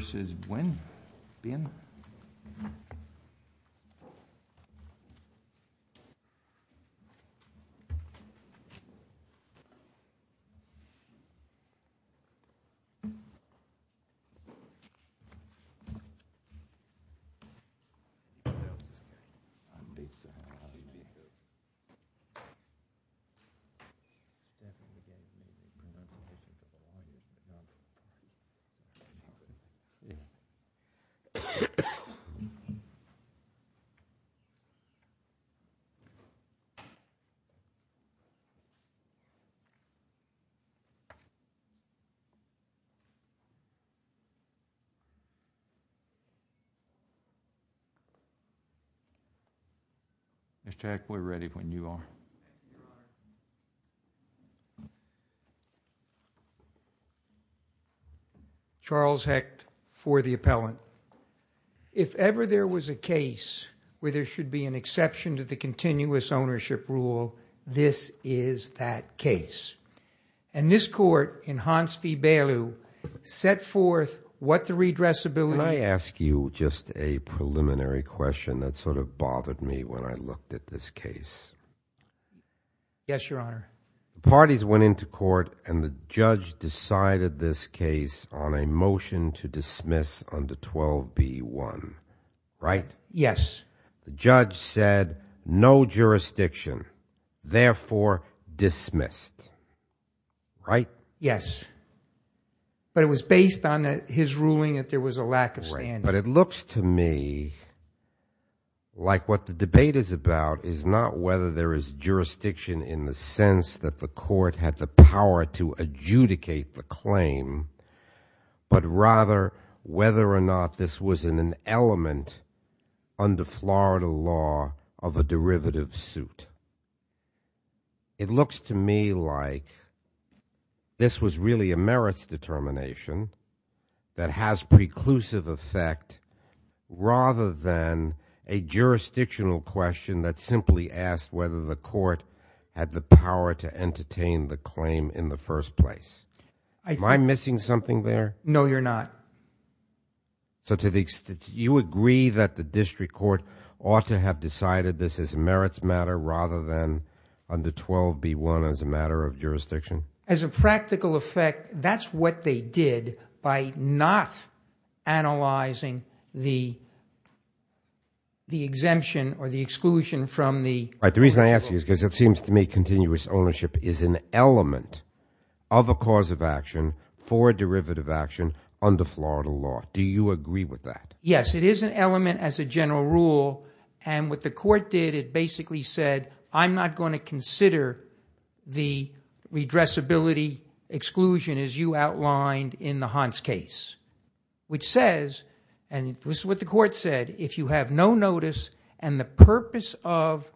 v. Nguyen Mr. Hecht, we're ready when you are. Charles Hecht, for the appellant. If ever there was a case where there should be an exception to the continuous ownership rule, this is that case. And this court, in Hans v. Beilu, set forth what the redressability— Yes, Your Honor. The parties went into court and the judge decided this case on a motion to dismiss under 12b.1. Right? Yes. The judge said, no jurisdiction, therefore dismissed. Right? Yes. But it was based on his ruling that there was a lack of standing. But it looks to me like what the debate is about is not whether there is jurisdiction in the sense that the court had the power to adjudicate the claim, but rather whether or not this was an element under Florida law of a derivative suit. But it looks to me like this was really a merits determination that has preclusive effect rather than a jurisdictional question that simply asked whether the court had the power to entertain the claim in the first place. Am I missing something there? No, you're not. So to the—you agree that the district court ought to have decided this is a merits matter rather than under 12b.1 as a matter of jurisdiction? As a practical effect, that's what they did by not analyzing the exemption or the exclusion from the— Right. The reason I ask you is because it seems to me continuous ownership is an element of a cause of action for a derivative action under Florida law. Do you agree with that? Yes. It is an element as a general rule, and what the court did, it basically said, I'm not going to consider the redressability exclusion as you outlined in the Hans case, which says, and this is what the court said, if you have no notice and the purpose of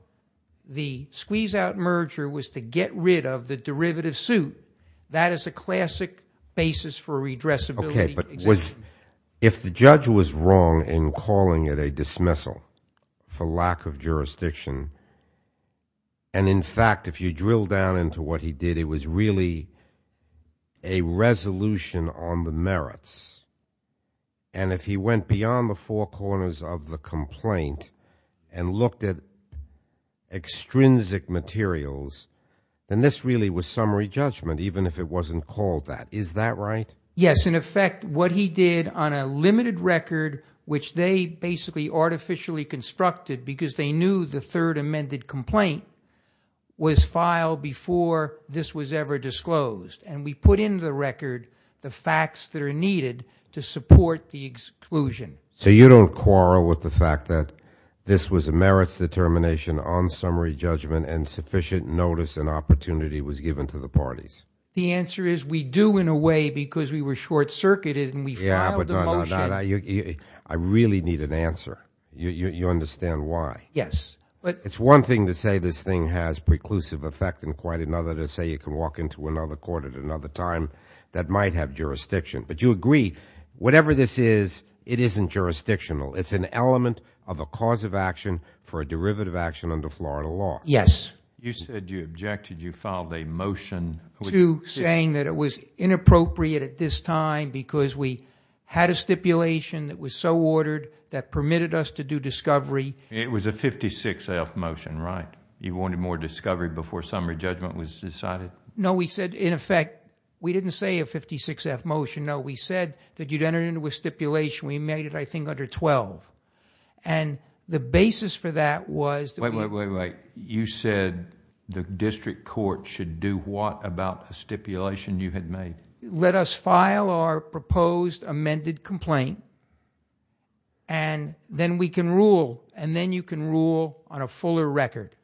the squeeze-out merger was to get rid of the derivative suit, that is a classic basis for redressability exemption. If the judge was wrong in calling it a dismissal for lack of jurisdiction, and in fact if you drill down into what he did, it was really a resolution on the merits, and if he went beyond the four corners of the complaint and looked at extrinsic materials, then this really was summary judgment, even if it wasn't called that. Is that right? Yes. In effect, what he did on a limited record, which they basically artificially constructed because they knew the third amended complaint was filed before this was ever disclosed, and we put in the record the facts that are needed to support the exclusion. So you don't quarrel with the fact that this was a merits determination on summary judgment and sufficient notice and opportunity was given to the parties? The answer is we do in a way because we were short-circuited and we filed a motion. I really need an answer. You understand why? Yes. It's one thing to say this thing has preclusive effect and quite another to say you can walk into another court at another time that might have jurisdiction, but you agree, whatever this is, it isn't jurisdictional. It's an element of a cause of action for a derivative action under Florida law. Yes. You said you objected. You filed a motion. To saying that it was inappropriate at this time because we had a stipulation that was so ordered that permitted us to do discovery. It was a 56-F motion, right? You wanted more discovery before summary judgment was decided? No, we said, in effect, we didn't say a 56-F motion, no. We said that you'd enter it into a stipulation. We made it, I think, under 12. The basis for that was that we... Wait, wait, wait. You said the district court should do what about the stipulation you had made? Let us file our proposed amended complaint, and then we can rule, and then you can rule on a fuller record.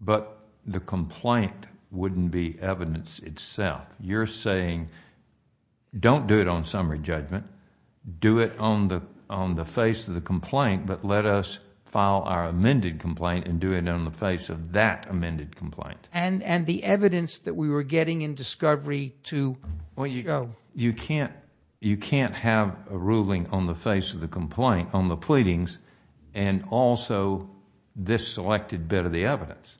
But the complaint wouldn't be evidence itself. You're saying, don't do it on summary judgment, do it on the face of the complaint, but let us file our amended complaint, and do it on the face of that amended complaint. And the evidence that we were getting in discovery to show. You can't have a ruling on the face of the complaint, on the pleadings, and also this selected bit of the evidence.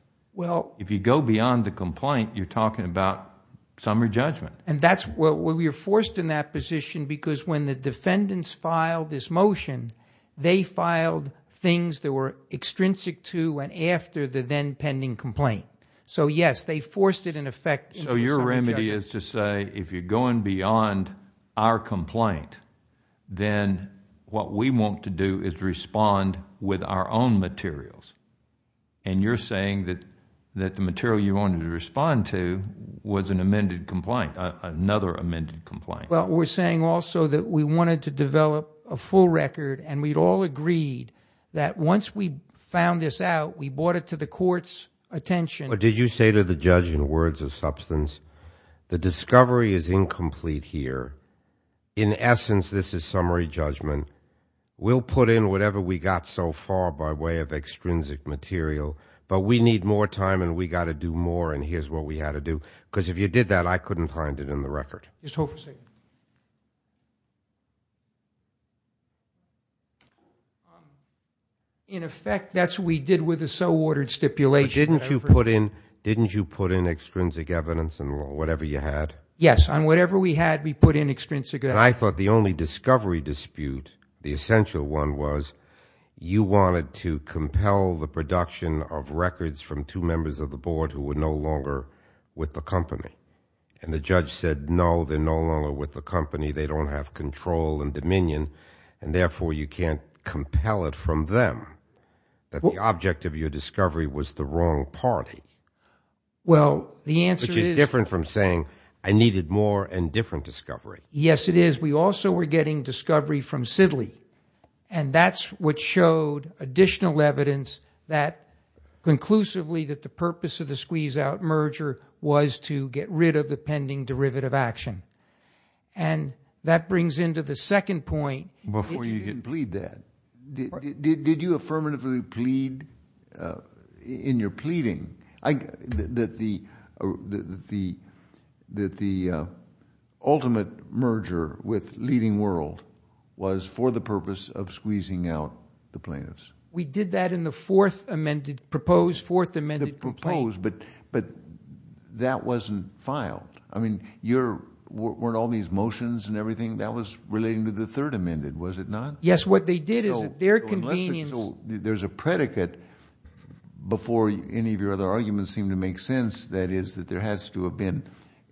If you go beyond the complaint, you're talking about summary judgment. And that's what we were forced in that position because when the defendants filed this motion, they filed things that were extrinsic to and after the then pending complaint. So yes, they forced it in effect in summary judgment. So your remedy is to say, if you're going beyond our complaint, then what we want to do is respond with our own materials. And you're saying that the material you wanted to respond to was an amended complaint, another amended complaint. Well, we're saying also that we wanted to develop a full record and we'd all agreed that once we found this out, we brought it to the court's attention. Did you say to the judge in words of substance, the discovery is incomplete here. In essence, this is summary judgment. We'll put in whatever we got so far by way of extrinsic material, but we need more time and we got to do more. And here's what we had to do. Because if you did that, I couldn't find it in the record. Just hold for a second. In effect, that's what we did with the so-ordered stipulation. Didn't you put in extrinsic evidence and whatever you had? Yes. On whatever we had, we put in extrinsic evidence. I thought the only discovery dispute, the essential one, was you wanted to compel the production of records from two members of the board who were no longer with the company. And the judge said, no, they're no longer with the company. They don't have control and dominion. And therefore, you can't compel it from them, that the object of your discovery was the wrong party, which is different from saying, I needed more and different discovery. Yes, it is. We also were getting discovery from Sidley. And that's what showed additional evidence that conclusively that the purpose of the case was to get rid of the pending derivative action. And that brings into the second point. Before you can plead that, did you affirmatively plead in your pleading that the ultimate merger with Leading World was for the purpose of squeezing out the plaintiffs? We did that in the fourth amended proposed, fourth amended complaint. But that wasn't filed. I mean, weren't all these motions and everything that was relating to the third amended, was it not? Yes, what they did is at their convenience. There's a predicate before any of your other arguments seem to make sense. That is, that there has to have been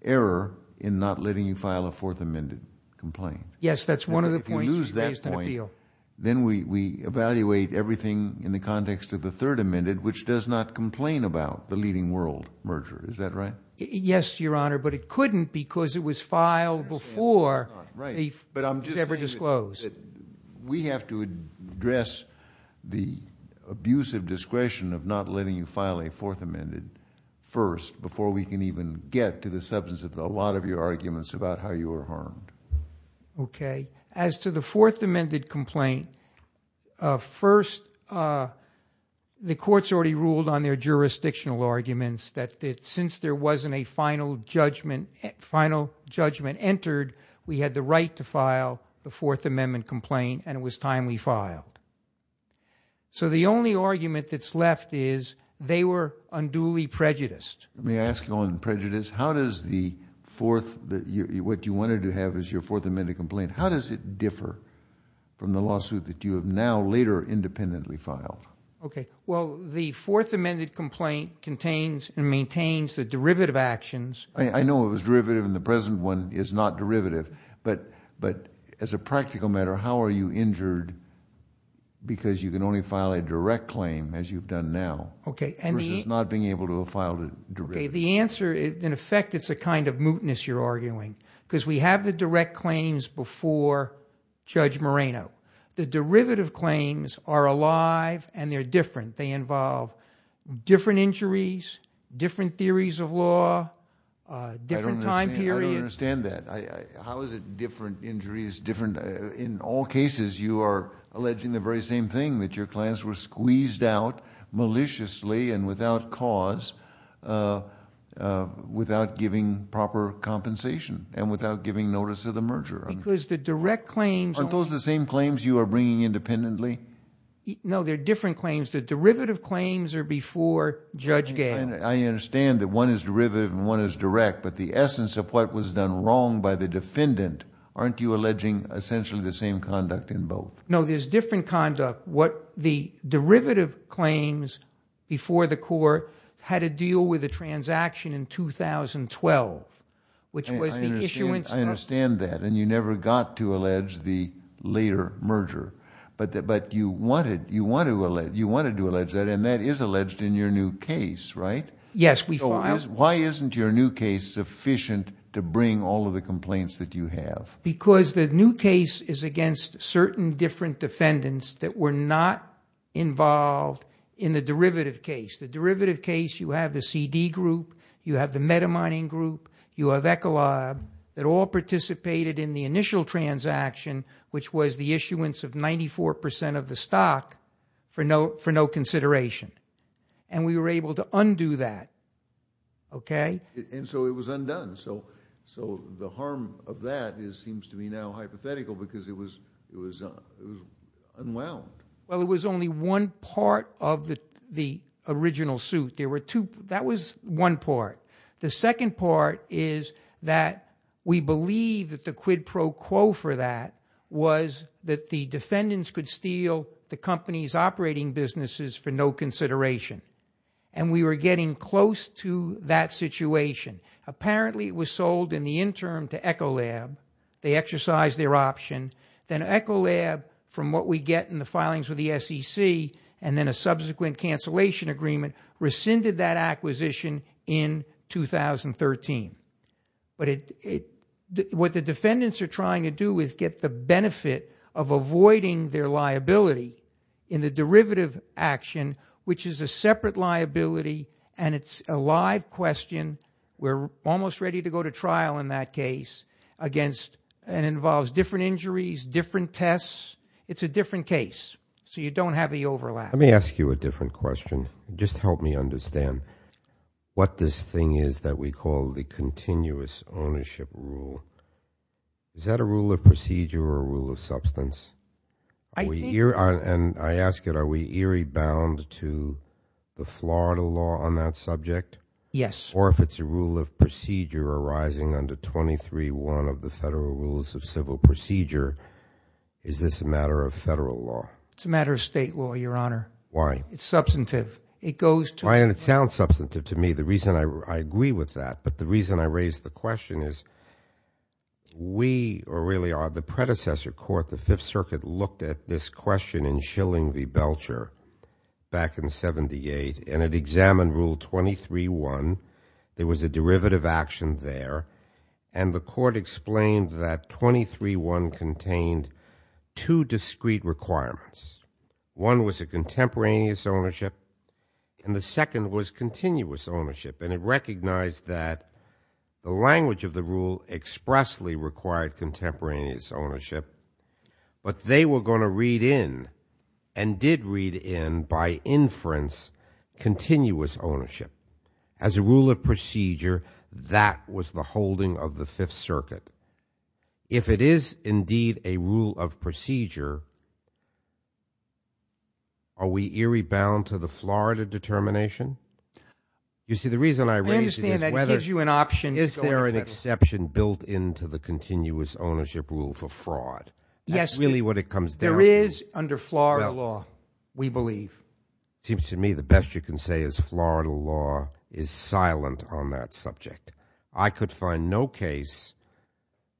error in not letting you file a fourth amended complaint. Yes, that's one of the points that I was going to appeal. Then we evaluate everything in the context of the third amended, which does not complain about the Leading World merger. Is that right? Yes, Your Honor. But it couldn't because it was filed before it was ever disclosed. We have to address the abusive discretion of not letting you file a fourth amended first before we can even get to the substance of a lot of your arguments about how you were harmed. Okay. As to the fourth amended complaint, first, the courts already ruled on their jurisdictional arguments that since there wasn't a final judgment entered, we had the right to file the fourth amendment complaint and it was timely filed. So the only argument that's left is they were unduly prejudiced. Let me ask you on prejudice. How does the fourth, what you wanted to have as your fourth amended complaint, how does it differ from the lawsuit that you have now later independently filed? Okay. Well, the fourth amended complaint contains and maintains the derivative actions. I know it was derivative and the present one is not derivative, but as a practical matter, how are you injured because you can only file a direct claim as you've done now versus not being able to file a derivative? The answer, in effect, it's a kind of mootness you're arguing because we have the direct claims before Judge Moreno. The derivative claims are alive and they're different. They involve different injuries, different theories of law, different time period. I don't understand that. How is it different injuries, different... In all cases, you are alleging the very same thing that your clients were squeezed out maliciously and without cause, without giving proper compensation and without giving notice of the merger. Because the direct claims... Aren't those the same claims you are bringing independently? No, they're different claims. The derivative claims are before Judge Gale. I understand that one is derivative and one is direct, but the essence of what was done wrong by the defendant, aren't you alleging essentially the same conduct in both? No, there's different conduct. What the derivative claims before the court had to deal with the transaction in 2012, which was the issuance... I understand that and you never got to allege the later merger, but you wanted to allege that and that is alleged in your new case, right? Yes, we filed... Why isn't your new case sufficient to bring all of the complaints that you have? Because the new case is against certain different defendants that were not involved in the derivative case. The derivative case, you have the CD group, you have the metamining group, you have Ecolab that all participated in the initial transaction, which was the issuance of 94% of the stock for no consideration and we were able to undo that, okay? And so it was undone. So the harm of that seems to be now hypothetical because it was unwound. Well, it was only one part of the original suit. That was one part. The second part is that we believe that the quid pro quo for that was that the defendants could steal the company's operating businesses for no consideration and we were getting close to that situation. Apparently it was sold in the interim to Ecolab, they exercised their option, then Ecolab from what we get in the filings with the SEC and then a subsequent cancellation agreement rescinded that acquisition in 2013. What the defendants are trying to do is get the benefit of avoiding their liability in the derivative action, which is a separate liability and it's a live question. We're almost ready to go to trial in that case against and involves different injuries, different tests. It's a different case. So you don't have the overlap. Let me ask you a different question. Just help me understand. What this thing is that we call the continuous ownership rule, is that a rule of procedure or a rule of substance? And I ask it, are we eerie bound to the Florida law on that subject? Yes. Or if it's a rule of procedure arising under 23.1 of the Federal Rules of Civil Procedure, is this a matter of federal law? It's a matter of state law, Your Honor. Why? It's substantive. It goes to... And it sounds substantive to me. The reason I agree with that, but the reason I raise the question is we really are the predecessor court. The Fifth Circuit looked at this question in Schilling v. Belcher back in 78 and it examined Rule 23.1. There was a derivative action there and the court explained that 23.1 contained two discrete requirements. One was a contemporaneous ownership and the second was continuous ownership and it recognized that the language of the rule expressly required contemporaneous ownership, but they were going to read in and did read in by inference continuous ownership. As a rule of procedure, that was the holding of the Fifth Circuit. If it is indeed a rule of procedure, are we eerie bound to the Florida determination? You see, the reason I raise it is whether... I understand that gives you an option to go into the middle. Is there an exception built into the continuous ownership rule for fraud? Yes. That's really what it comes down to. There is under Florida law, we believe. It seems to me the best you can say is Florida law is silent on that subject. I could find no case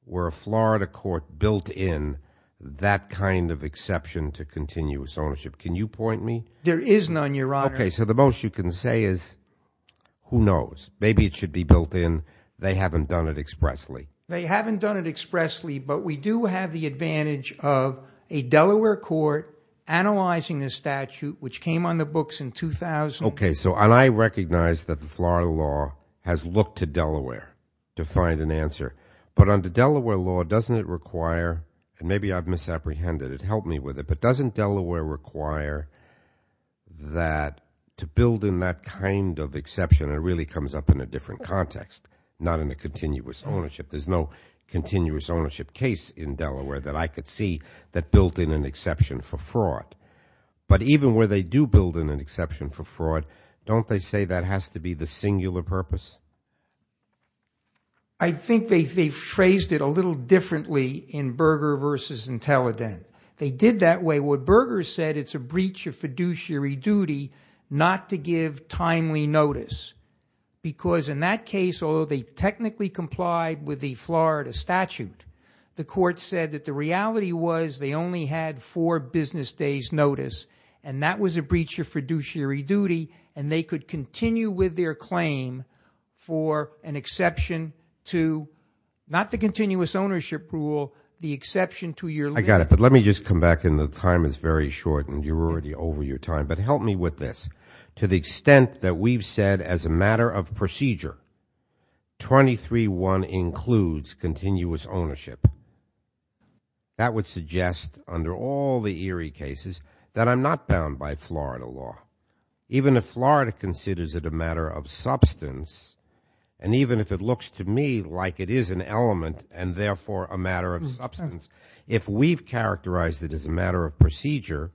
where a Florida court built in that kind of exception to continuous ownership. Can you point me? There is none, Your Honor. Okay. The most you can say is, who knows? Maybe it should be built in. They haven't done it expressly. They haven't done it expressly, but we do have the advantage of a Delaware court analyzing the statute, which came on the books in 2000. Okay. I recognize that the Florida law has looked to Delaware to find an answer, but under Delaware law, doesn't it require, and maybe I've misapprehended it, help me with it, but doesn't Delaware require that to build in that kind of exception, it really comes up in a different context, not in a continuous ownership. There's no continuous ownership case in Delaware that I could see that built in an exception for fraud. But even where they do build in an exception for fraud, don't they say that has to be the singular purpose? I think they phrased it a little differently in Berger versus Intellident. They did that way. What Berger said, it's a breach of fiduciary duty not to give timely notice. Because in that case, although they technically complied with the Florida statute, the court said that the reality was they only had four business days' notice, and that was a breach of fiduciary duty, and they could continue with their claim for an exception to, not the continuous ownership rule, the exception to your- I got it, but let me just come back in, the time is very short and you're already over your time, but help me with this. To the extent that we've said as a matter of procedure, 23-1 includes continuous ownership, that would suggest under all the Erie cases that I'm not bound by Florida law. Even if Florida considers it a matter of substance, and even if it looks to me like it is an element and therefore a matter of substance, if we've characterized it as a matter of procedure,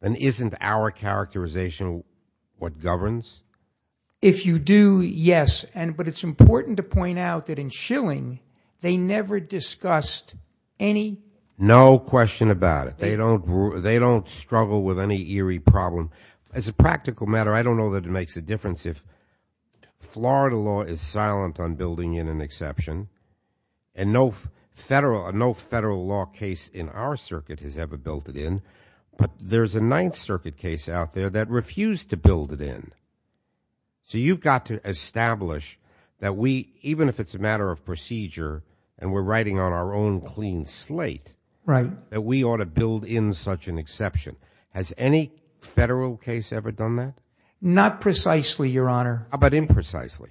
then isn't our characterization what governs? If you do, yes, but it's important to point out that in Schilling, they never discussed any- No question about it. They don't struggle with any Erie problem. As a practical matter, I don't know that it makes a difference if Florida law is silent on building in an exception, and no federal law case in our circuit has ever built it in, but there's a Ninth Circuit case out there that refused to build it in. So you've got to establish that we, even if it's a matter of procedure, and we're writing on our own clean slate, that we ought to build in such an exception. Has any federal case ever done that? Not precisely, Your Honor. But imprecisely?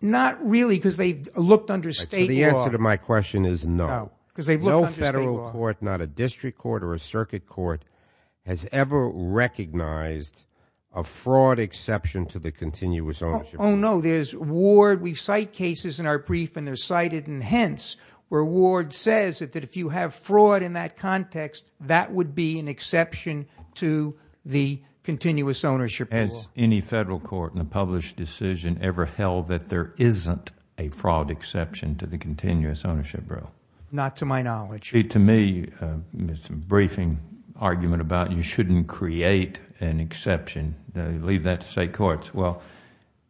Not really, because they've looked under state law. So the answer to my question is no. No, because they've looked under state law. No federal court, not a district court or a circuit court, has ever recognized a fraud exception to the continuous ownership. Oh, no. There's Ward. We cite cases in our brief, and they're cited in hence, where Ward says that if you have fraud in that context, that would be an exception to the continuous ownership. Has any federal court in a published decision ever held that there isn't a fraud exception to the continuous ownership rule? Not to my knowledge. To me, it's a briefing argument about you shouldn't create an exception. Leave that to state courts. Well,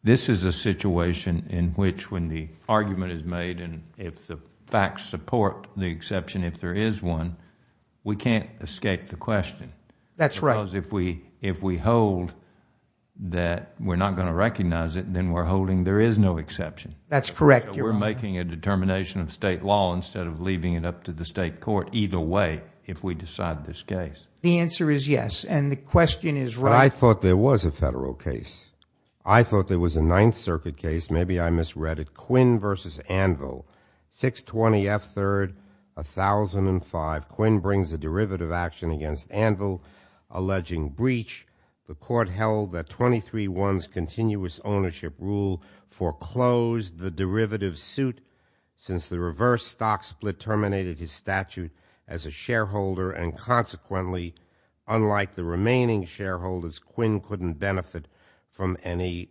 this is a situation in which when the argument is made, and if the facts support the exception, if there is one, we can't escape the question. That's right. Because if we hold that we're not going to recognize it, then we're holding there is no exception. That's correct, Your Honor. We're making a determination of state law instead of leaving it up to the state court either way if we decide this case. The answer is yes, and the question is right. But I thought there was a federal case. I thought there was a Ninth Circuit case. Maybe I misread it. Quinn v. Anvil, 620 F. 3rd, 1005. Quinn brings a derivative action against Anvil alleging breach. The court held that 23-1's continuous ownership rule foreclosed the derivative suit since the reverse stock split terminated his statute as a shareholder, and consequently, unlike the remaining shareholders, Quinn couldn't benefit from any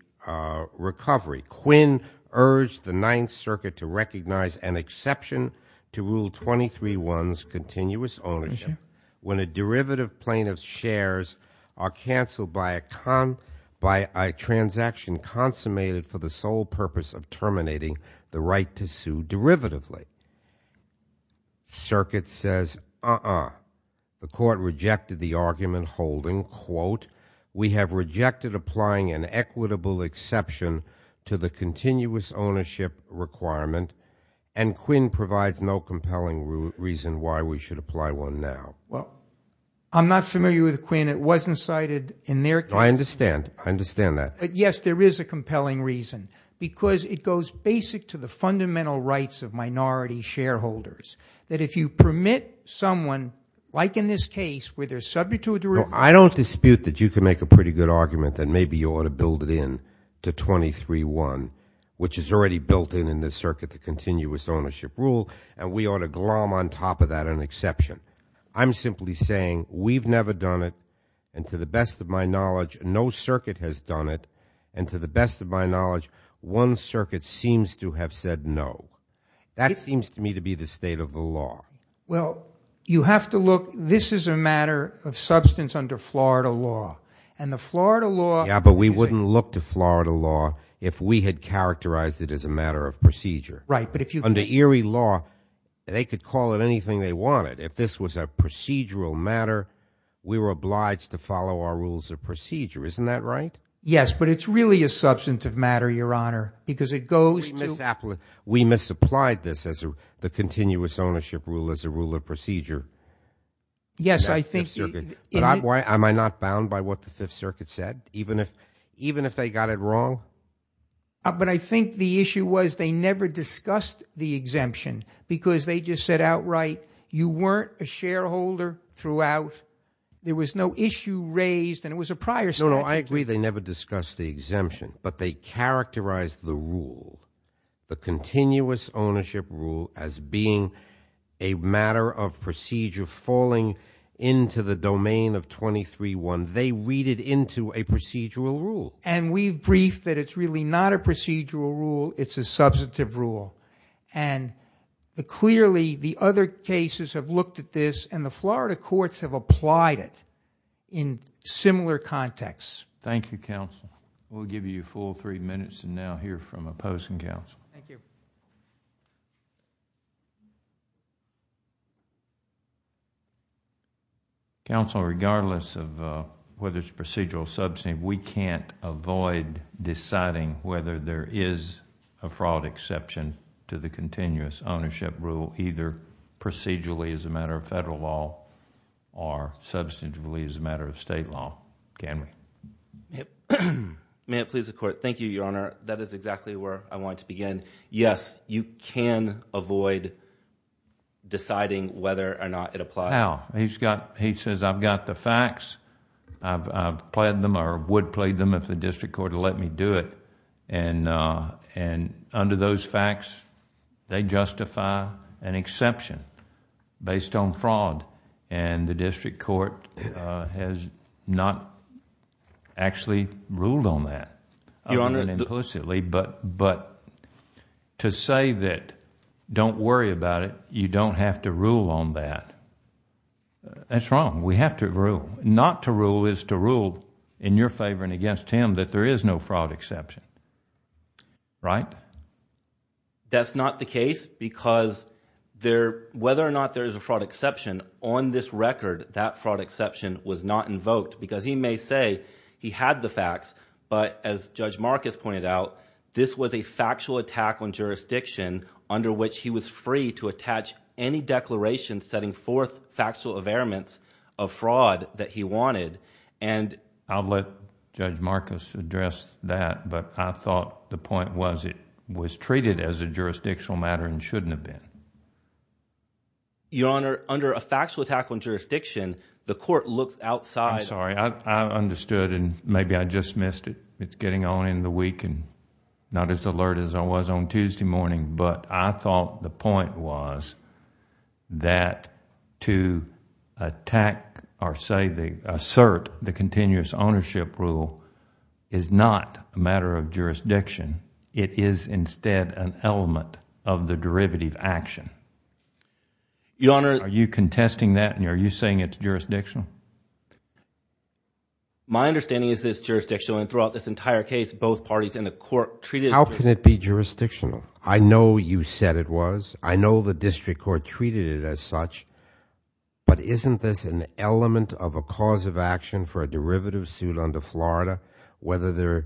recovery. Quinn urged the Ninth Circuit to recognize an exception to Rule 23-1's continuous ownership when a derivative plaintiff's shares are canceled by a transaction consummated for the sole purpose of terminating the right to sue derivatively. Circuit says, uh-uh. The court rejected the argument, holding, quote, we have rejected applying an equitable exception to the continuous ownership requirement, and Quinn provides no compelling reason why we should apply one now. Well, I'm not familiar with Quinn. It wasn't cited in their case. I understand. I understand that. But yes, there is a compelling reason, because it goes basic to the fundamental rights of minority shareholders, that if you permit someone, like in this case, where they're subject to a derivative. No, I don't dispute that you can make a pretty good argument that maybe you ought to build it in to 23-1, which is already built in in this circuit, the continuous ownership rule, and we ought to glom on top of that an exception. I'm simply saying, we've never done it, and to the best of my knowledge, no circuit has done it, and to the best of my knowledge, one circuit seems to have said no. That seems to me to be the state of the law. Well, you have to look, this is a matter of substance under Florida law, and the Florida law. Yeah, but we wouldn't look to Florida law if we had characterized it as a matter of procedure. Right, but if you. Under Erie law, they could call it anything they wanted. If this was a procedural matter, we were obliged to follow our rules of procedure. Isn't that right? Yes, but it's really a substance of matter, Your Honor, because it goes to. We misapplied this as the continuous ownership rule as a rule of procedure. Yes, I think. Am I not bound by what the Fifth Circuit said, even if they got it wrong? But I think the issue was they never discussed the exemption, because they just said outright, you weren't a shareholder throughout, there was no issue raised, and it was a prior statute. No, no, I agree they never discussed the exemption, but they characterized the rule, the continuous under the domain of 23-1, they read it into a procedural rule. And we've briefed that it's really not a procedural rule, it's a substantive rule, and clearly the other cases have looked at this, and the Florida courts have applied it in similar contexts. Thank you, counsel. We'll give you a full three minutes to now hear from opposing counsel. Counsel, regardless of whether it's procedural or substantive, we can't avoid deciding whether there is a fraud exception to the continuous ownership rule, either procedurally as a matter of federal law, or substantively as a matter of state law, can we? May it please the court. Thank you, Your Honor. That is exactly where I wanted to begin. Yes, you can avoid deciding whether or not it applies. How? He says, I've got the facts, I've pled them, or would pled them if the district court would let me do it, and under those facts, they justify an exception based on fraud, and the district court has not actually ruled on that, implicitly, but to say that, don't worry about it, you don't have to rule on that, that's wrong, we have to rule. Not to rule is to rule in your favor and against him that there is no fraud exception, right? That's not the case, because whether or not there is a fraud exception, on this record, that fraud exception was not invoked, because he may say he had the facts, but as Judge Marcus pointed out, this was a factual attack on jurisdiction under which he was free to attach any declaration setting forth factual availments of fraud that he wanted, and I'll let Judge Marcus address that, but I thought the point was it was treated as a jurisdictional matter and shouldn't have been. Your Honor, under a factual attack on jurisdiction, the court looks outside I'm sorry, I understood, and maybe I just missed it. It's getting on in the week, and not as alert as I was on Tuesday morning, but I thought the point was that to attack or say, assert the continuous ownership rule is not a matter of jurisdiction, it is instead an element of the derivative action. Your Honor Are you contesting that, and are you saying it's jurisdictional? My understanding is it's jurisdictional, and throughout this entire case, both parties in the court treated it How can it be jurisdictional? I know you said it was, I know the district court treated it as such, but isn't this an element of a cause of action for a derivative suit under Florida, whether there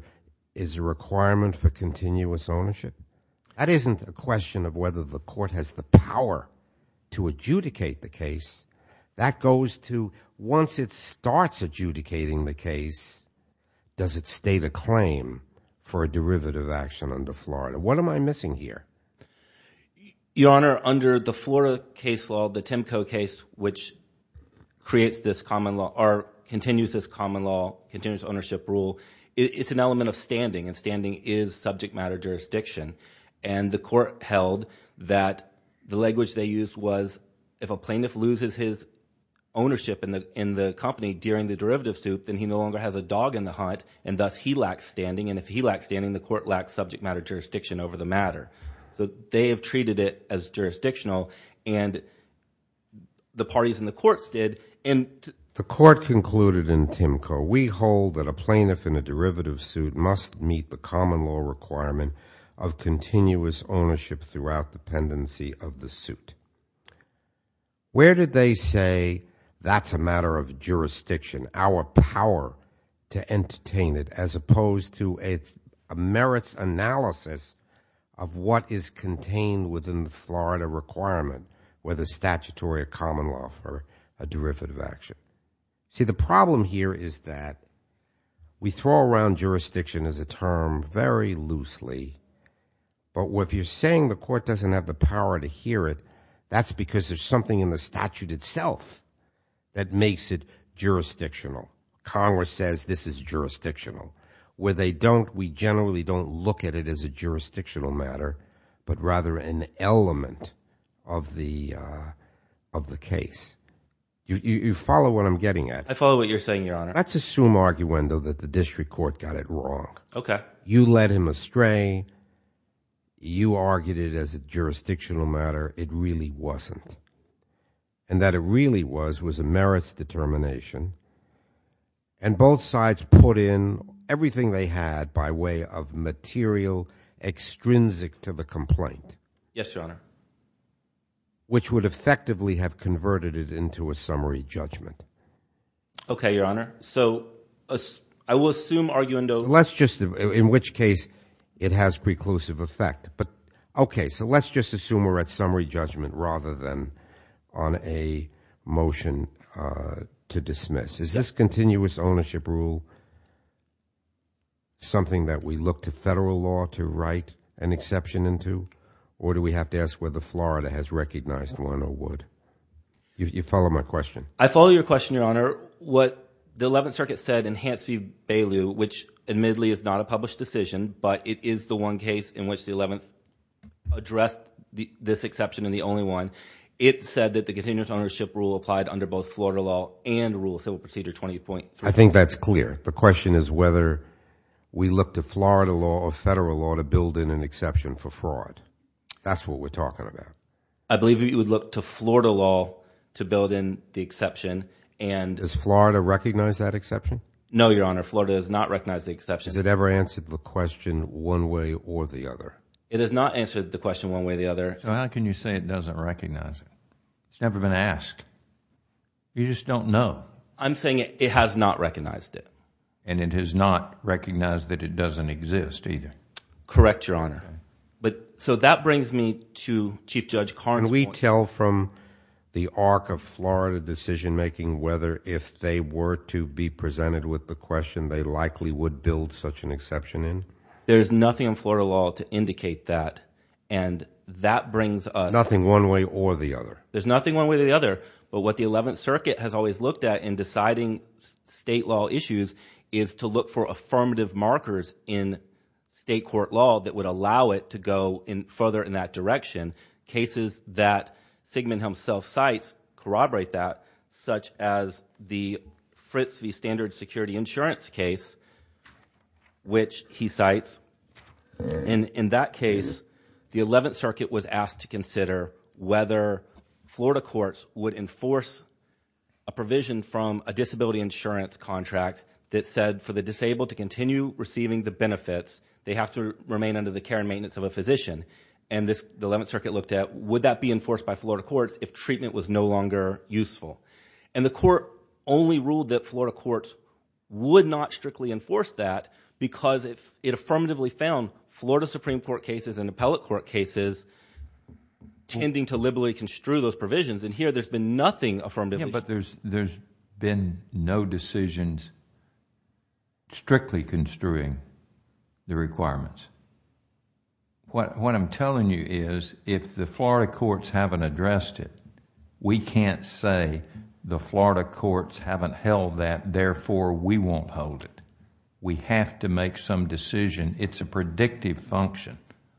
is a requirement for continuous ownership? That isn't a question of whether the court has the power to adjudicate the case. That goes to, once it starts adjudicating the case, does it state a claim for a derivative action under Florida? What am I missing here? Your Honor, under the Florida case law, the Timco case, which creates this common law, or continues this common law, continuous ownership rule, it's an element of standing, and standing is subject matter jurisdiction, and the court held that the language they used was, if a plaintiff loses his ownership in the company during the derivative suit, then he no longer has a dog in the hunt, and thus he lacks standing, and if he lacks standing, the court lacks subject matter jurisdiction over the matter. They have treated it as jurisdictional, and the parties in the courts did. The court concluded in Timco, we hold that a plaintiff in a derivative suit must meet the common law requirement of continuous ownership throughout the pendency of the suit. Where did they say, that's a matter of jurisdiction, our power to entertain it, as opposed to a merits analysis of what is contained within the Florida requirement, whether statutory or common law for a derivative action. See, the problem here is that we throw around jurisdiction as a term very loosely, but if you're saying the court doesn't have the power to hear it, that's because there's something in the statute itself that makes it jurisdictional. Congress says this is jurisdictional. Where they don't, we generally don't look at it as a jurisdictional matter, but rather an element of the case. You follow what I'm getting at? I follow what you're saying, your honor. Let's assume, arguendo, that the district court got it wrong. You led him astray, you argued it as a jurisdictional matter, it really wasn't. And that it really was, was a merits determination. And both sides put in everything they had by way of material extrinsic to the complaint. Yes, your honor. Which would effectively have converted it into a summary judgment. Okay, your honor. So I will assume, arguendo. Let's just, in which case it has preclusive effect, but okay, so let's just assume we're at summary judgment rather than on a motion to dismiss. Is this continuous ownership rule something that we look to federal law to write an exception into? Or do we have to ask whether Florida has recognized one or would? You follow my question? I follow your question, your honor. What the Eleventh Circuit said in Hance v. Bailiw, which admittedly is not a published decision, but it is the one case in which the Eleventh addressed this exception and the only one. It said that the continuous ownership rule applied under both Florida law and rule of civil procedure 20.3. I think that's clear. The question is whether we look to Florida law or federal law to build in an exception for fraud. That's what we're talking about. I believe you would look to Florida law to build in the exception. Does Florida recognize that exception? No your honor. Florida does not recognize the exception. Has it ever answered the question one way or the other? It has not answered the question one way or the other. So how can you say it doesn't recognize it? It's never been asked. You just don't know. I'm saying it has not recognized it. And it has not recognized that it doesn't exist either. Correct, your honor. So that brings me to Chief Judge Karn's point. Can we tell from the arc of Florida decision making whether if they were to be presented with the question they likely would build such an exception in? There's nothing in Florida law to indicate that. And that brings us. Nothing one way or the other. There's nothing one way or the other. But what the 11th circuit has always looked at in deciding state law issues is to look for affirmative markers in state court law that would allow it to go further in that direction. Cases that Sigmund Helm self-cites corroborate that, such as the Fritz v. Standard Security Insurance case, which he cites. In that case, the 11th circuit was asked to consider whether Florida courts would enforce a provision from a disability insurance contract that said for the disabled to continue receiving the benefits, they have to remain under the care and maintenance of a physician. And the 11th circuit looked at would that be enforced by Florida courts if treatment was no longer useful? And the court only ruled that Florida courts would not strictly enforce that because it affirmatively found Florida Supreme Court cases and appellate court cases tending to liberally construe those provisions. And here there's been nothing affirmatively. But there's been no decisions strictly construing the requirements. What I'm telling you is if the Florida courts haven't addressed it, we can't say the Florida courts haven't held that, therefore we won't hold it. We have to make some decision. It's a predictive function.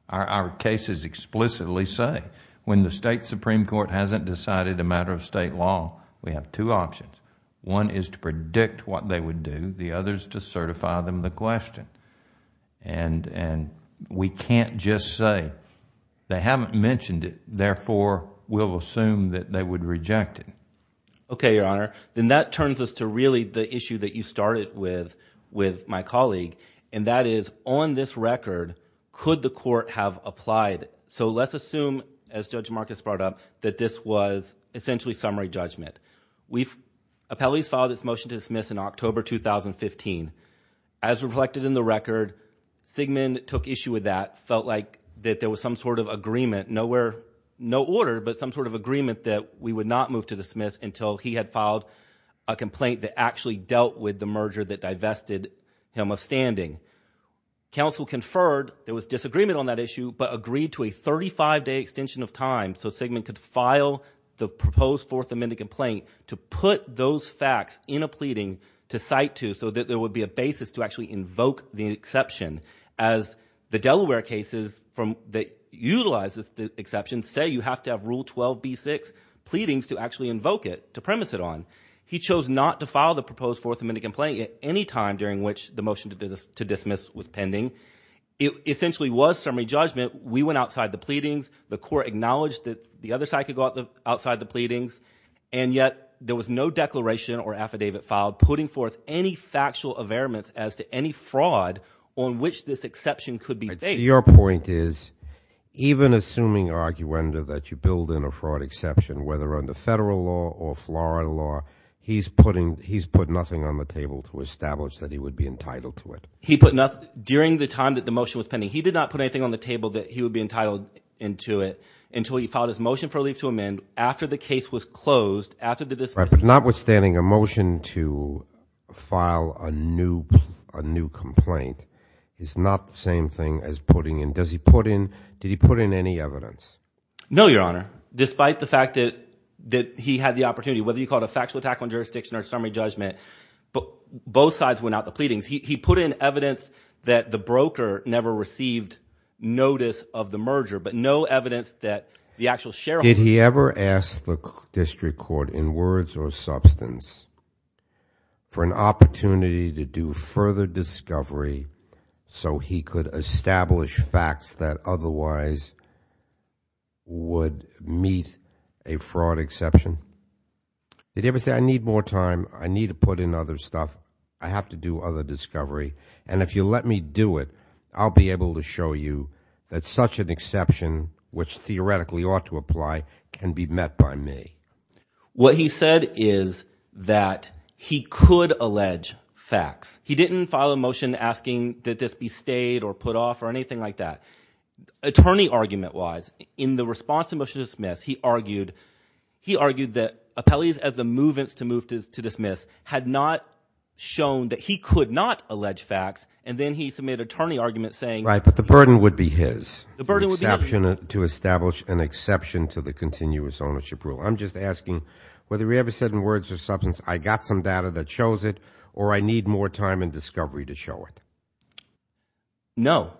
Our cases explicitly say when the state Supreme Court hasn't decided a matter of state law, we have two options. One is to predict what they would do. The other is to certify them the question. And we can't just say they haven't mentioned it, therefore we'll assume that they would reject it. Okay, Your Honor. Then that turns us to really the issue that you started with, with my colleague. And that is on this record, could the court have applied? So let's assume, as Judge Marcus brought up, that this was essentially summary judgment. We've, appellees filed this motion to dismiss in October 2015. As reflected in the record, Sigmund took issue with that, felt like that there was some sort of agreement, nowhere, no order, but some sort of agreement that we would not move to dismiss until he had filed a complaint that actually dealt with the merger that divested him of standing. Counsel conferred, there was disagreement on that issue, but agreed to a 35-day extension of time so Sigmund could file the proposed Fourth Amendment complaint to put those facts in a pleading to cite to so that there would be a basis to actually invoke the exception. As the Delaware cases that utilize the exception say you have to have Rule 12b-6 pleadings to actually invoke it, to premise it on. He chose not to file the proposed Fourth Amendment complaint at any time during which the motion to dismiss was pending. It essentially was summary judgment. We went outside the pleadings. The court acknowledged that the other side could go outside the pleadings, and yet there was no declaration or affidavit filed putting forth any factual averments as to any fraud on which this exception could be based. Your point is, even assuming arguenda that you build in a fraud exception, whether under federal law or Florida law, he's put nothing on the table to establish that he would be entitled to it. He put nothing, during the time that the motion was pending, he did not put anything on the table to establish that he would be entitled to it until he filed his motion for a leave to amend after the case was closed, after the dismissal. Notwithstanding a motion to file a new complaint is not the same thing as putting in, does he put in, did he put in any evidence? No, Your Honor. Despite the fact that he had the opportunity, whether you call it a factual attack on jurisdiction or a summary judgment, both sides went out the pleadings. He put in evidence that the broker never received notice of the merger, but no evidence that the actual sheriff... Did he ever ask the district court, in words or substance, for an opportunity to do further discovery so he could establish facts that otherwise would meet a fraud exception? Did he ever say, I need more time, I need to put in other stuff, I have to do other discovery, and if you let me do it, I'll be able to show you that such an exception, which theoretically ought to apply, can be met by me. What he said is that he could allege facts. He didn't file a motion asking that this be stayed or put off or anything like that. Attorney argument-wise, in the response to the motion to dismiss, he argued that appellees as the movements to move to dismiss had not shown that he could not allege facts, and then he submitted an attorney argument saying... Right, but the burden would be his. The burden would be his. The exception to establish an exception to the continuous ownership rule. I'm just asking, whether he ever said in words or substance, I got some data that shows it, or I need more time and discovery to show it. No.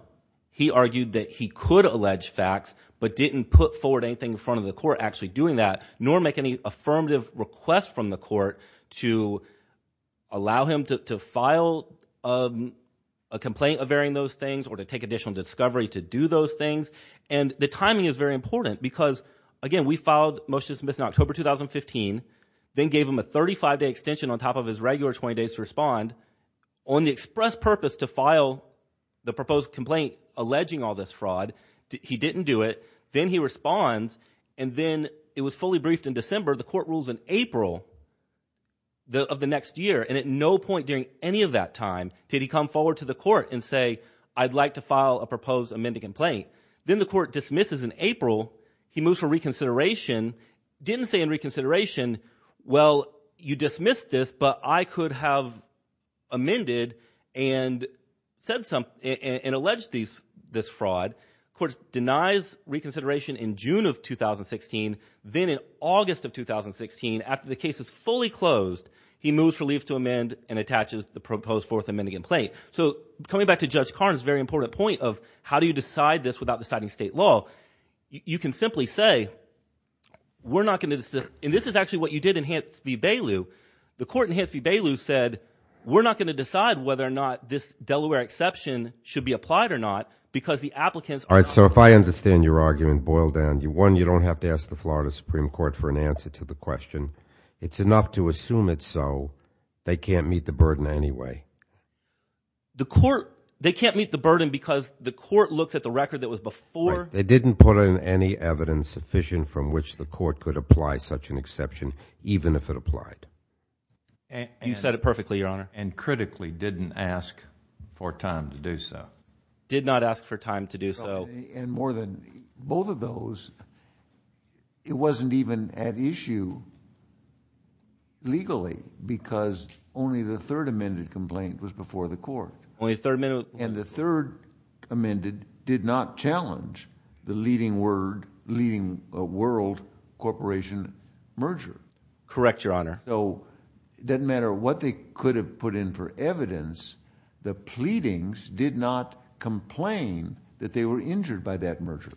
He argued that he could allege facts, but didn't put forward anything in front of the request from the court to allow him to file a complaint averting those things or to take additional discovery to do those things, and the timing is very important because, again, we filed a motion to dismiss in October 2015, then gave him a 35-day extension on top of his regular 20 days to respond on the express purpose to file the proposed complaint alleging all this fraud. He didn't do it. He put forward the court rules in April of the next year, and at no point during any of that time did he come forward to the court and say, I'd like to file a proposed amended complaint. Then the court dismisses in April. He moves for reconsideration, didn't say in reconsideration, well, you dismissed this, but I could have amended and said some, and alleged this fraud. The court denies reconsideration in June of 2016, then in August of 2016, after the case is fully closed, he moves for leave to amend and attaches the proposed fourth amending complaint. So coming back to Judge Karn's very important point of how do you decide this without deciding state law, you can simply say, we're not going to, and this is actually what you did in Hance v. Bailu, the court in Hance v. Bailu said, we're not going to decide whether or not this is true. All right. So if I understand your argument, boil down. One, you don't have to ask the Florida Supreme Court for an answer to the question. It's enough to assume it's so. They can't meet the burden anyway. The court, they can't meet the burden because the court looks at the record that was before. They didn't put in any evidence sufficient from which the court could apply such an exception, even if it applied. You said it perfectly, Your Honor. And critically didn't ask for time to do so. Did not ask for time to do so. And more than both of those, it wasn't even at issue legally because only the third amended complaint was before the court. Only the third amendment. And the third amended did not challenge the leading word, leading world corporation merger. Correct, Your Honor. So it doesn't matter what they could have put in for evidence, the pleadings did not complain that they were injured by that merger.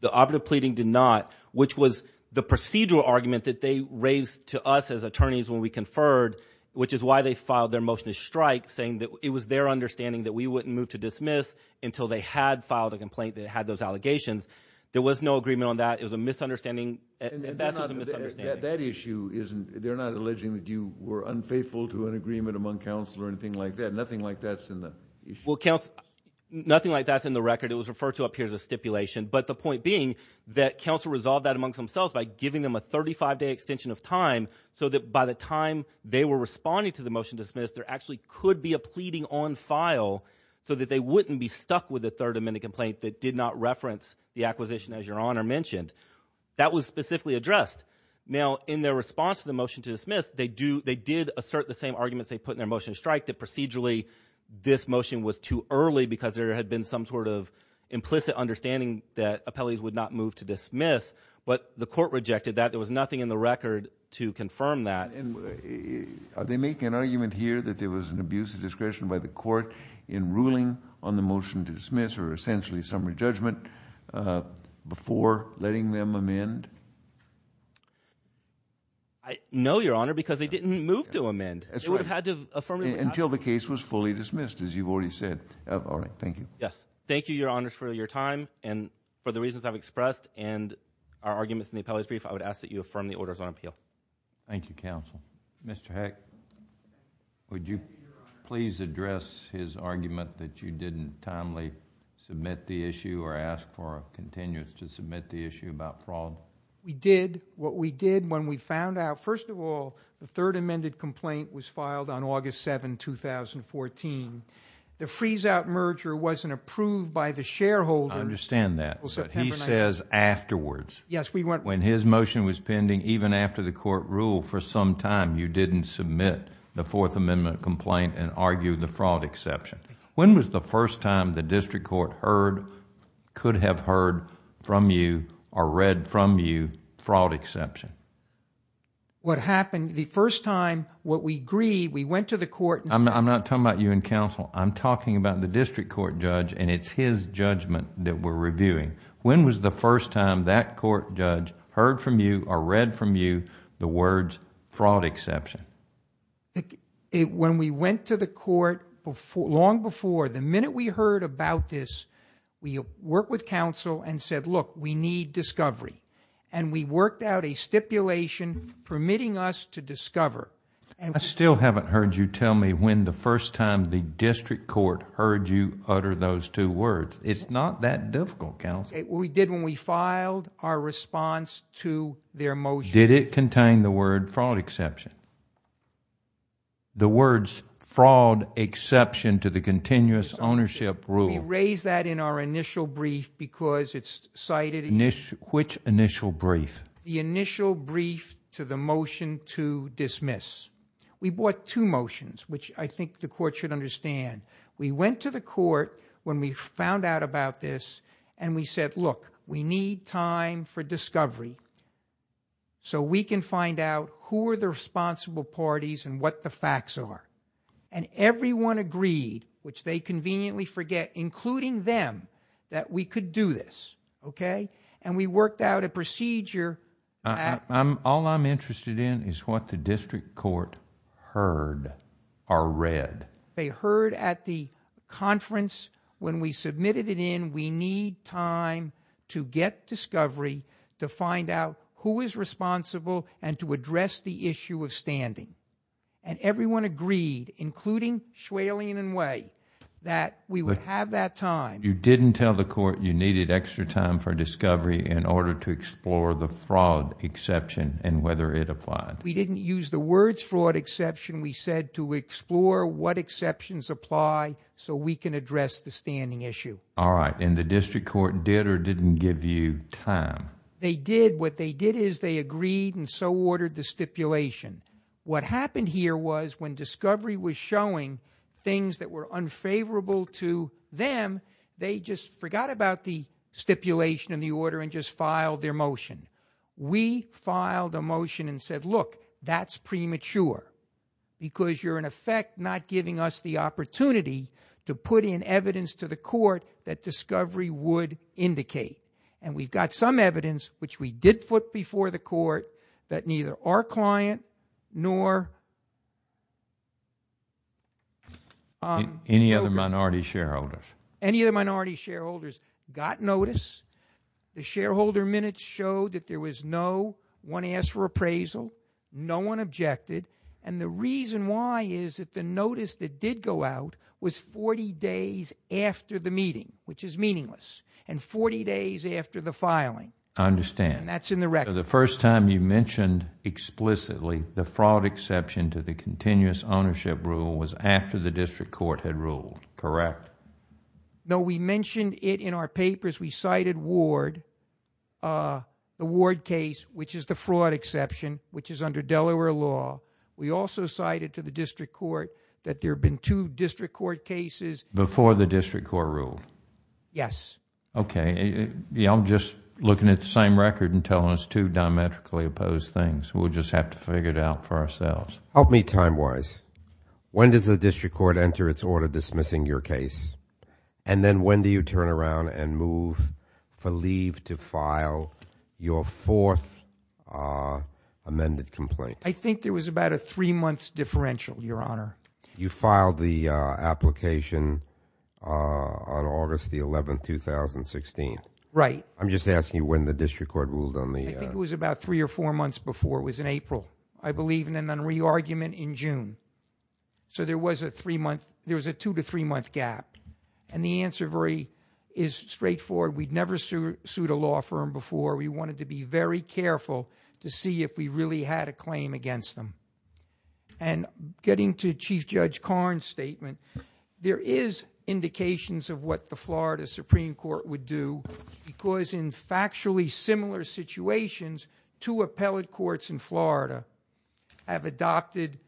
The operative pleading did not, which was the procedural argument that they raised to us as attorneys when we conferred, which is why they filed their motion to strike saying that it was their understanding that we wouldn't move to dismiss until they had filed a complaint that had those allegations. There was no agreement on that. It was a misunderstanding. That's just a misunderstanding. That issue isn't, they're not alleging that you were unfaithful to an agreement among counsel or anything like that. Nothing like that's in the issue. Nothing like that's in the record. It was referred to up here as a stipulation. But the point being that counsel resolved that amongst themselves by giving them a 35 day extension of time so that by the time they were responding to the motion to dismiss, there actually could be a pleading on file so that they wouldn't be stuck with a third amended complaint that did not reference the acquisition, as Your Honor mentioned. That was specifically addressed. Now, in their response to the motion to dismiss, they do, they did assert the same arguments they put in their motion to strike, that procedurally this motion was too early because there had been some sort of implicit understanding that appellees would not move to dismiss, but the court rejected that. There was nothing in the record to confirm that. Are they making an argument here that there was an abuse of discretion by the court in making them amend? No, Your Honor, because they didn't move to amend. That's right. They would have had to affirm it. Until the case was fully dismissed, as you've already said. All right. Thank you. Yes. Thank you, Your Honors, for your time and for the reasons I've expressed and our arguments in the appellee's brief. I would ask that you affirm the orders on appeal. Thank you, counsel. Mr. Heck, would you please address his argument that you didn't timely submit the issue or ask for a continuance to submit the issue about fraud? We did. What we did when we found out... First of all, the third amended complaint was filed on August 7, 2014. The freeze-out merger wasn't approved by the shareholder... I understand that.... until September 9th. He says afterwards. Yes, we went... When his motion was pending, even after the court ruled for some time, you didn't submit the Fourth Amendment complaint and argue the fraud exception. When was the first time the district court heard, could have heard from you or read from you fraud exception? What happened, the first time, what we agreed, we went to the court... I'm not talking about you and counsel. I'm talking about the district court judge and it's his judgment that we're reviewing. When was the first time that court judge heard from you or read from you the words fraud exception? When we went to the court, long before, the minute we heard about this, we worked with counsel and said, look, we need discovery. We worked out a stipulation permitting us to discover. I still haven't heard you tell me when the first time the district court heard you utter those two words. It's not that difficult, counsel. We did when we filed our response to their motion. Did it contain the word fraud exception? The words fraud exception to the continuous ownership rule... We raised that in our initial brief because it's cited in... Which initial brief? The initial brief to the motion to dismiss. We brought two motions, which I think the court should understand. We went to the court when we found out about this and we said, look, we need time for discovery so we can find out who are the responsible parties and what the facts are. Everyone agreed, which they conveniently forget, including them, that we could do this. We worked out a procedure... All I'm interested in is what the district court heard or read. They heard at the conference. When we submitted it in, we need time to get discovery to find out who is responsible and to address the issue of standing. Everyone agreed, including Schwalien and Way, that we would have that time. You didn't tell the court you needed extra time for discovery in order to explore the fraud exception and whether it applied. We didn't use the words fraud exception. We said to explore what exceptions apply so we can address the standing issue. All right. And the district court did or didn't give you time? They did. What they did is they agreed and so ordered the stipulation. What happened here was when discovery was showing things that were unfavorable to them, they just forgot about the stipulation and the order and just filed their motion. We filed a motion and said, look, that's premature because you're in effect not giving us the opportunity to put in evidence to the court that discovery would indicate. And we've got some evidence, which we did put before the court, that neither our client nor... Any other minority shareholders? Any of the minority shareholders got notice. The shareholder minutes showed that there was no one asked for appraisal, no one objected, and the reason why is that the notice that did go out was 40 days after the meeting, which is meaningless, and 40 days after the filing. I understand. And that's in the record. So the first time you mentioned explicitly the fraud exception to the continuous ownership rule was after the district court had ruled, correct? No, we mentioned it in our papers. We cited Ward, the Ward case, which is the fraud exception, which is under Delaware law. We also cited to the district court that there had been two district court cases... Before the district court ruled? Yes. Okay. I'm just looking at the same record and telling us two diametrically opposed things. We'll just have to figure it out for ourselves. Help me time-wise. When does the district court enter its order dismissing your case, and then when do you turn around and move for leave to file your fourth amended complaint? I think there was about a three-month differential, Your Honor. You filed the application on August the 11th, 2016. Right. I'm just asking you when the district court ruled on the... I think it was about three or four months before. It was in April, I believe, and then re-argument in June. So there was a three-month... there was a two to three-month gap. And the answer is straightforward. We'd never sued a law firm before. We wanted to be very careful to see if we really had a claim against them. And getting to Chief Judge Karn's statement, there is indications of what the Florida Supreme Court would do because in factually similar situations, two appellate courts in Florida have adopted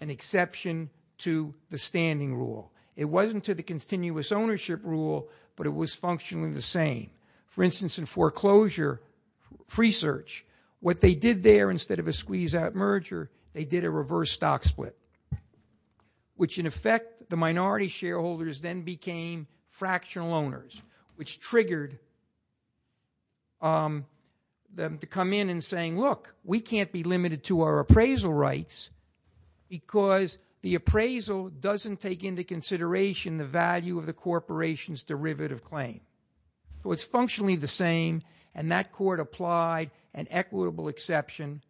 an exception to the standing rule. It wasn't to the continuous ownership rule, but it was functionally the same. For instance, in foreclosure research, what they did there instead of a squeeze-out merger, they did a reverse stock split, which in effect, the minority shareholders then became fractional owners, which triggered them to come in and saying, look, we can't be limited to our appraisal rights because the appraisal doesn't take into consideration the value of the corporation's derivative claim. So it's functionally the same, and that court applied an equitable exception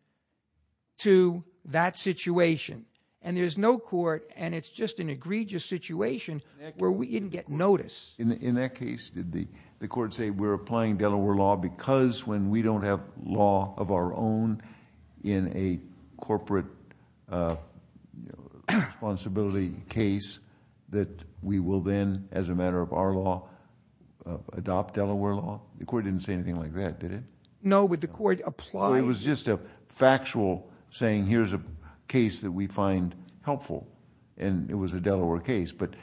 to that situation. And there's no court, and it's just an egregious situation where we didn't get notice. In that case, did the court say, we're applying Delaware law because when we don't have law of our own in a corporate responsibility case, that we will then, as a matter of our law, adopt Delaware law? The court didn't say anything like that, did it? No, but the court applied... It was just a factual saying, here's a case that we find helpful, and it was a Delaware case, but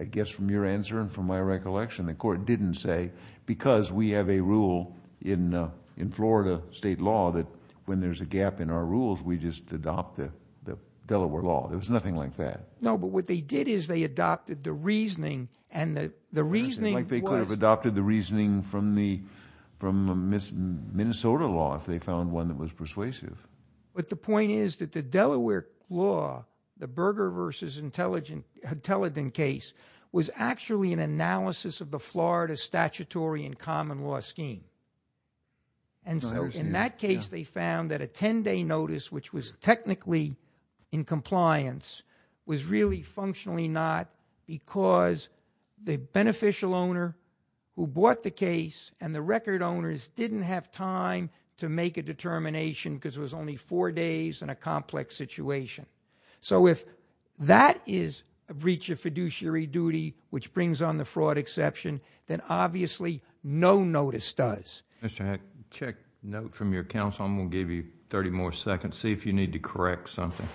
I guess from your answer and from my recollection, the court didn't say because we have a rule in Florida state law that when there's a gap in our rules, we just adopt the Delaware law. There was nothing like that. No, but what they did is they adopted the reasoning, and the reasoning was... Like they could have adopted the reasoning from the Minnesota law if they found one that was persuasive. But the point is that the Delaware law, the Berger v. Hutellidan case, was actually an unconstitutional common law scheme. And so in that case, they found that a 10-day notice, which was technically in compliance, was really functionally not because the beneficial owner who bought the case and the record owners didn't have time to make a determination because it was only four days in a complex situation. So if that is a breach of fiduciary duty, which brings on the fraud exception, then obviously no notice does. Mr. Heck, check note from your counsel. I'm going to give you 30 more seconds. See if you need to correct something.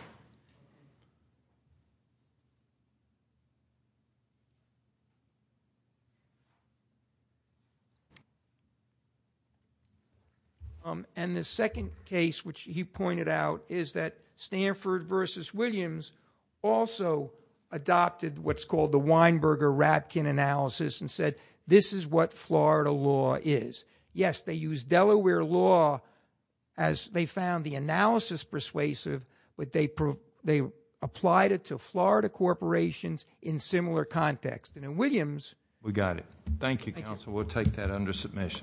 And the second case which he pointed out is that Stanford v. Williams also adopted what's is what Florida law is. Yes, they used Delaware law as they found the analysis persuasive, but they applied it to Florida corporations in similar context. And in Williams... We got it. Thank you, counsel. We'll take that under submission.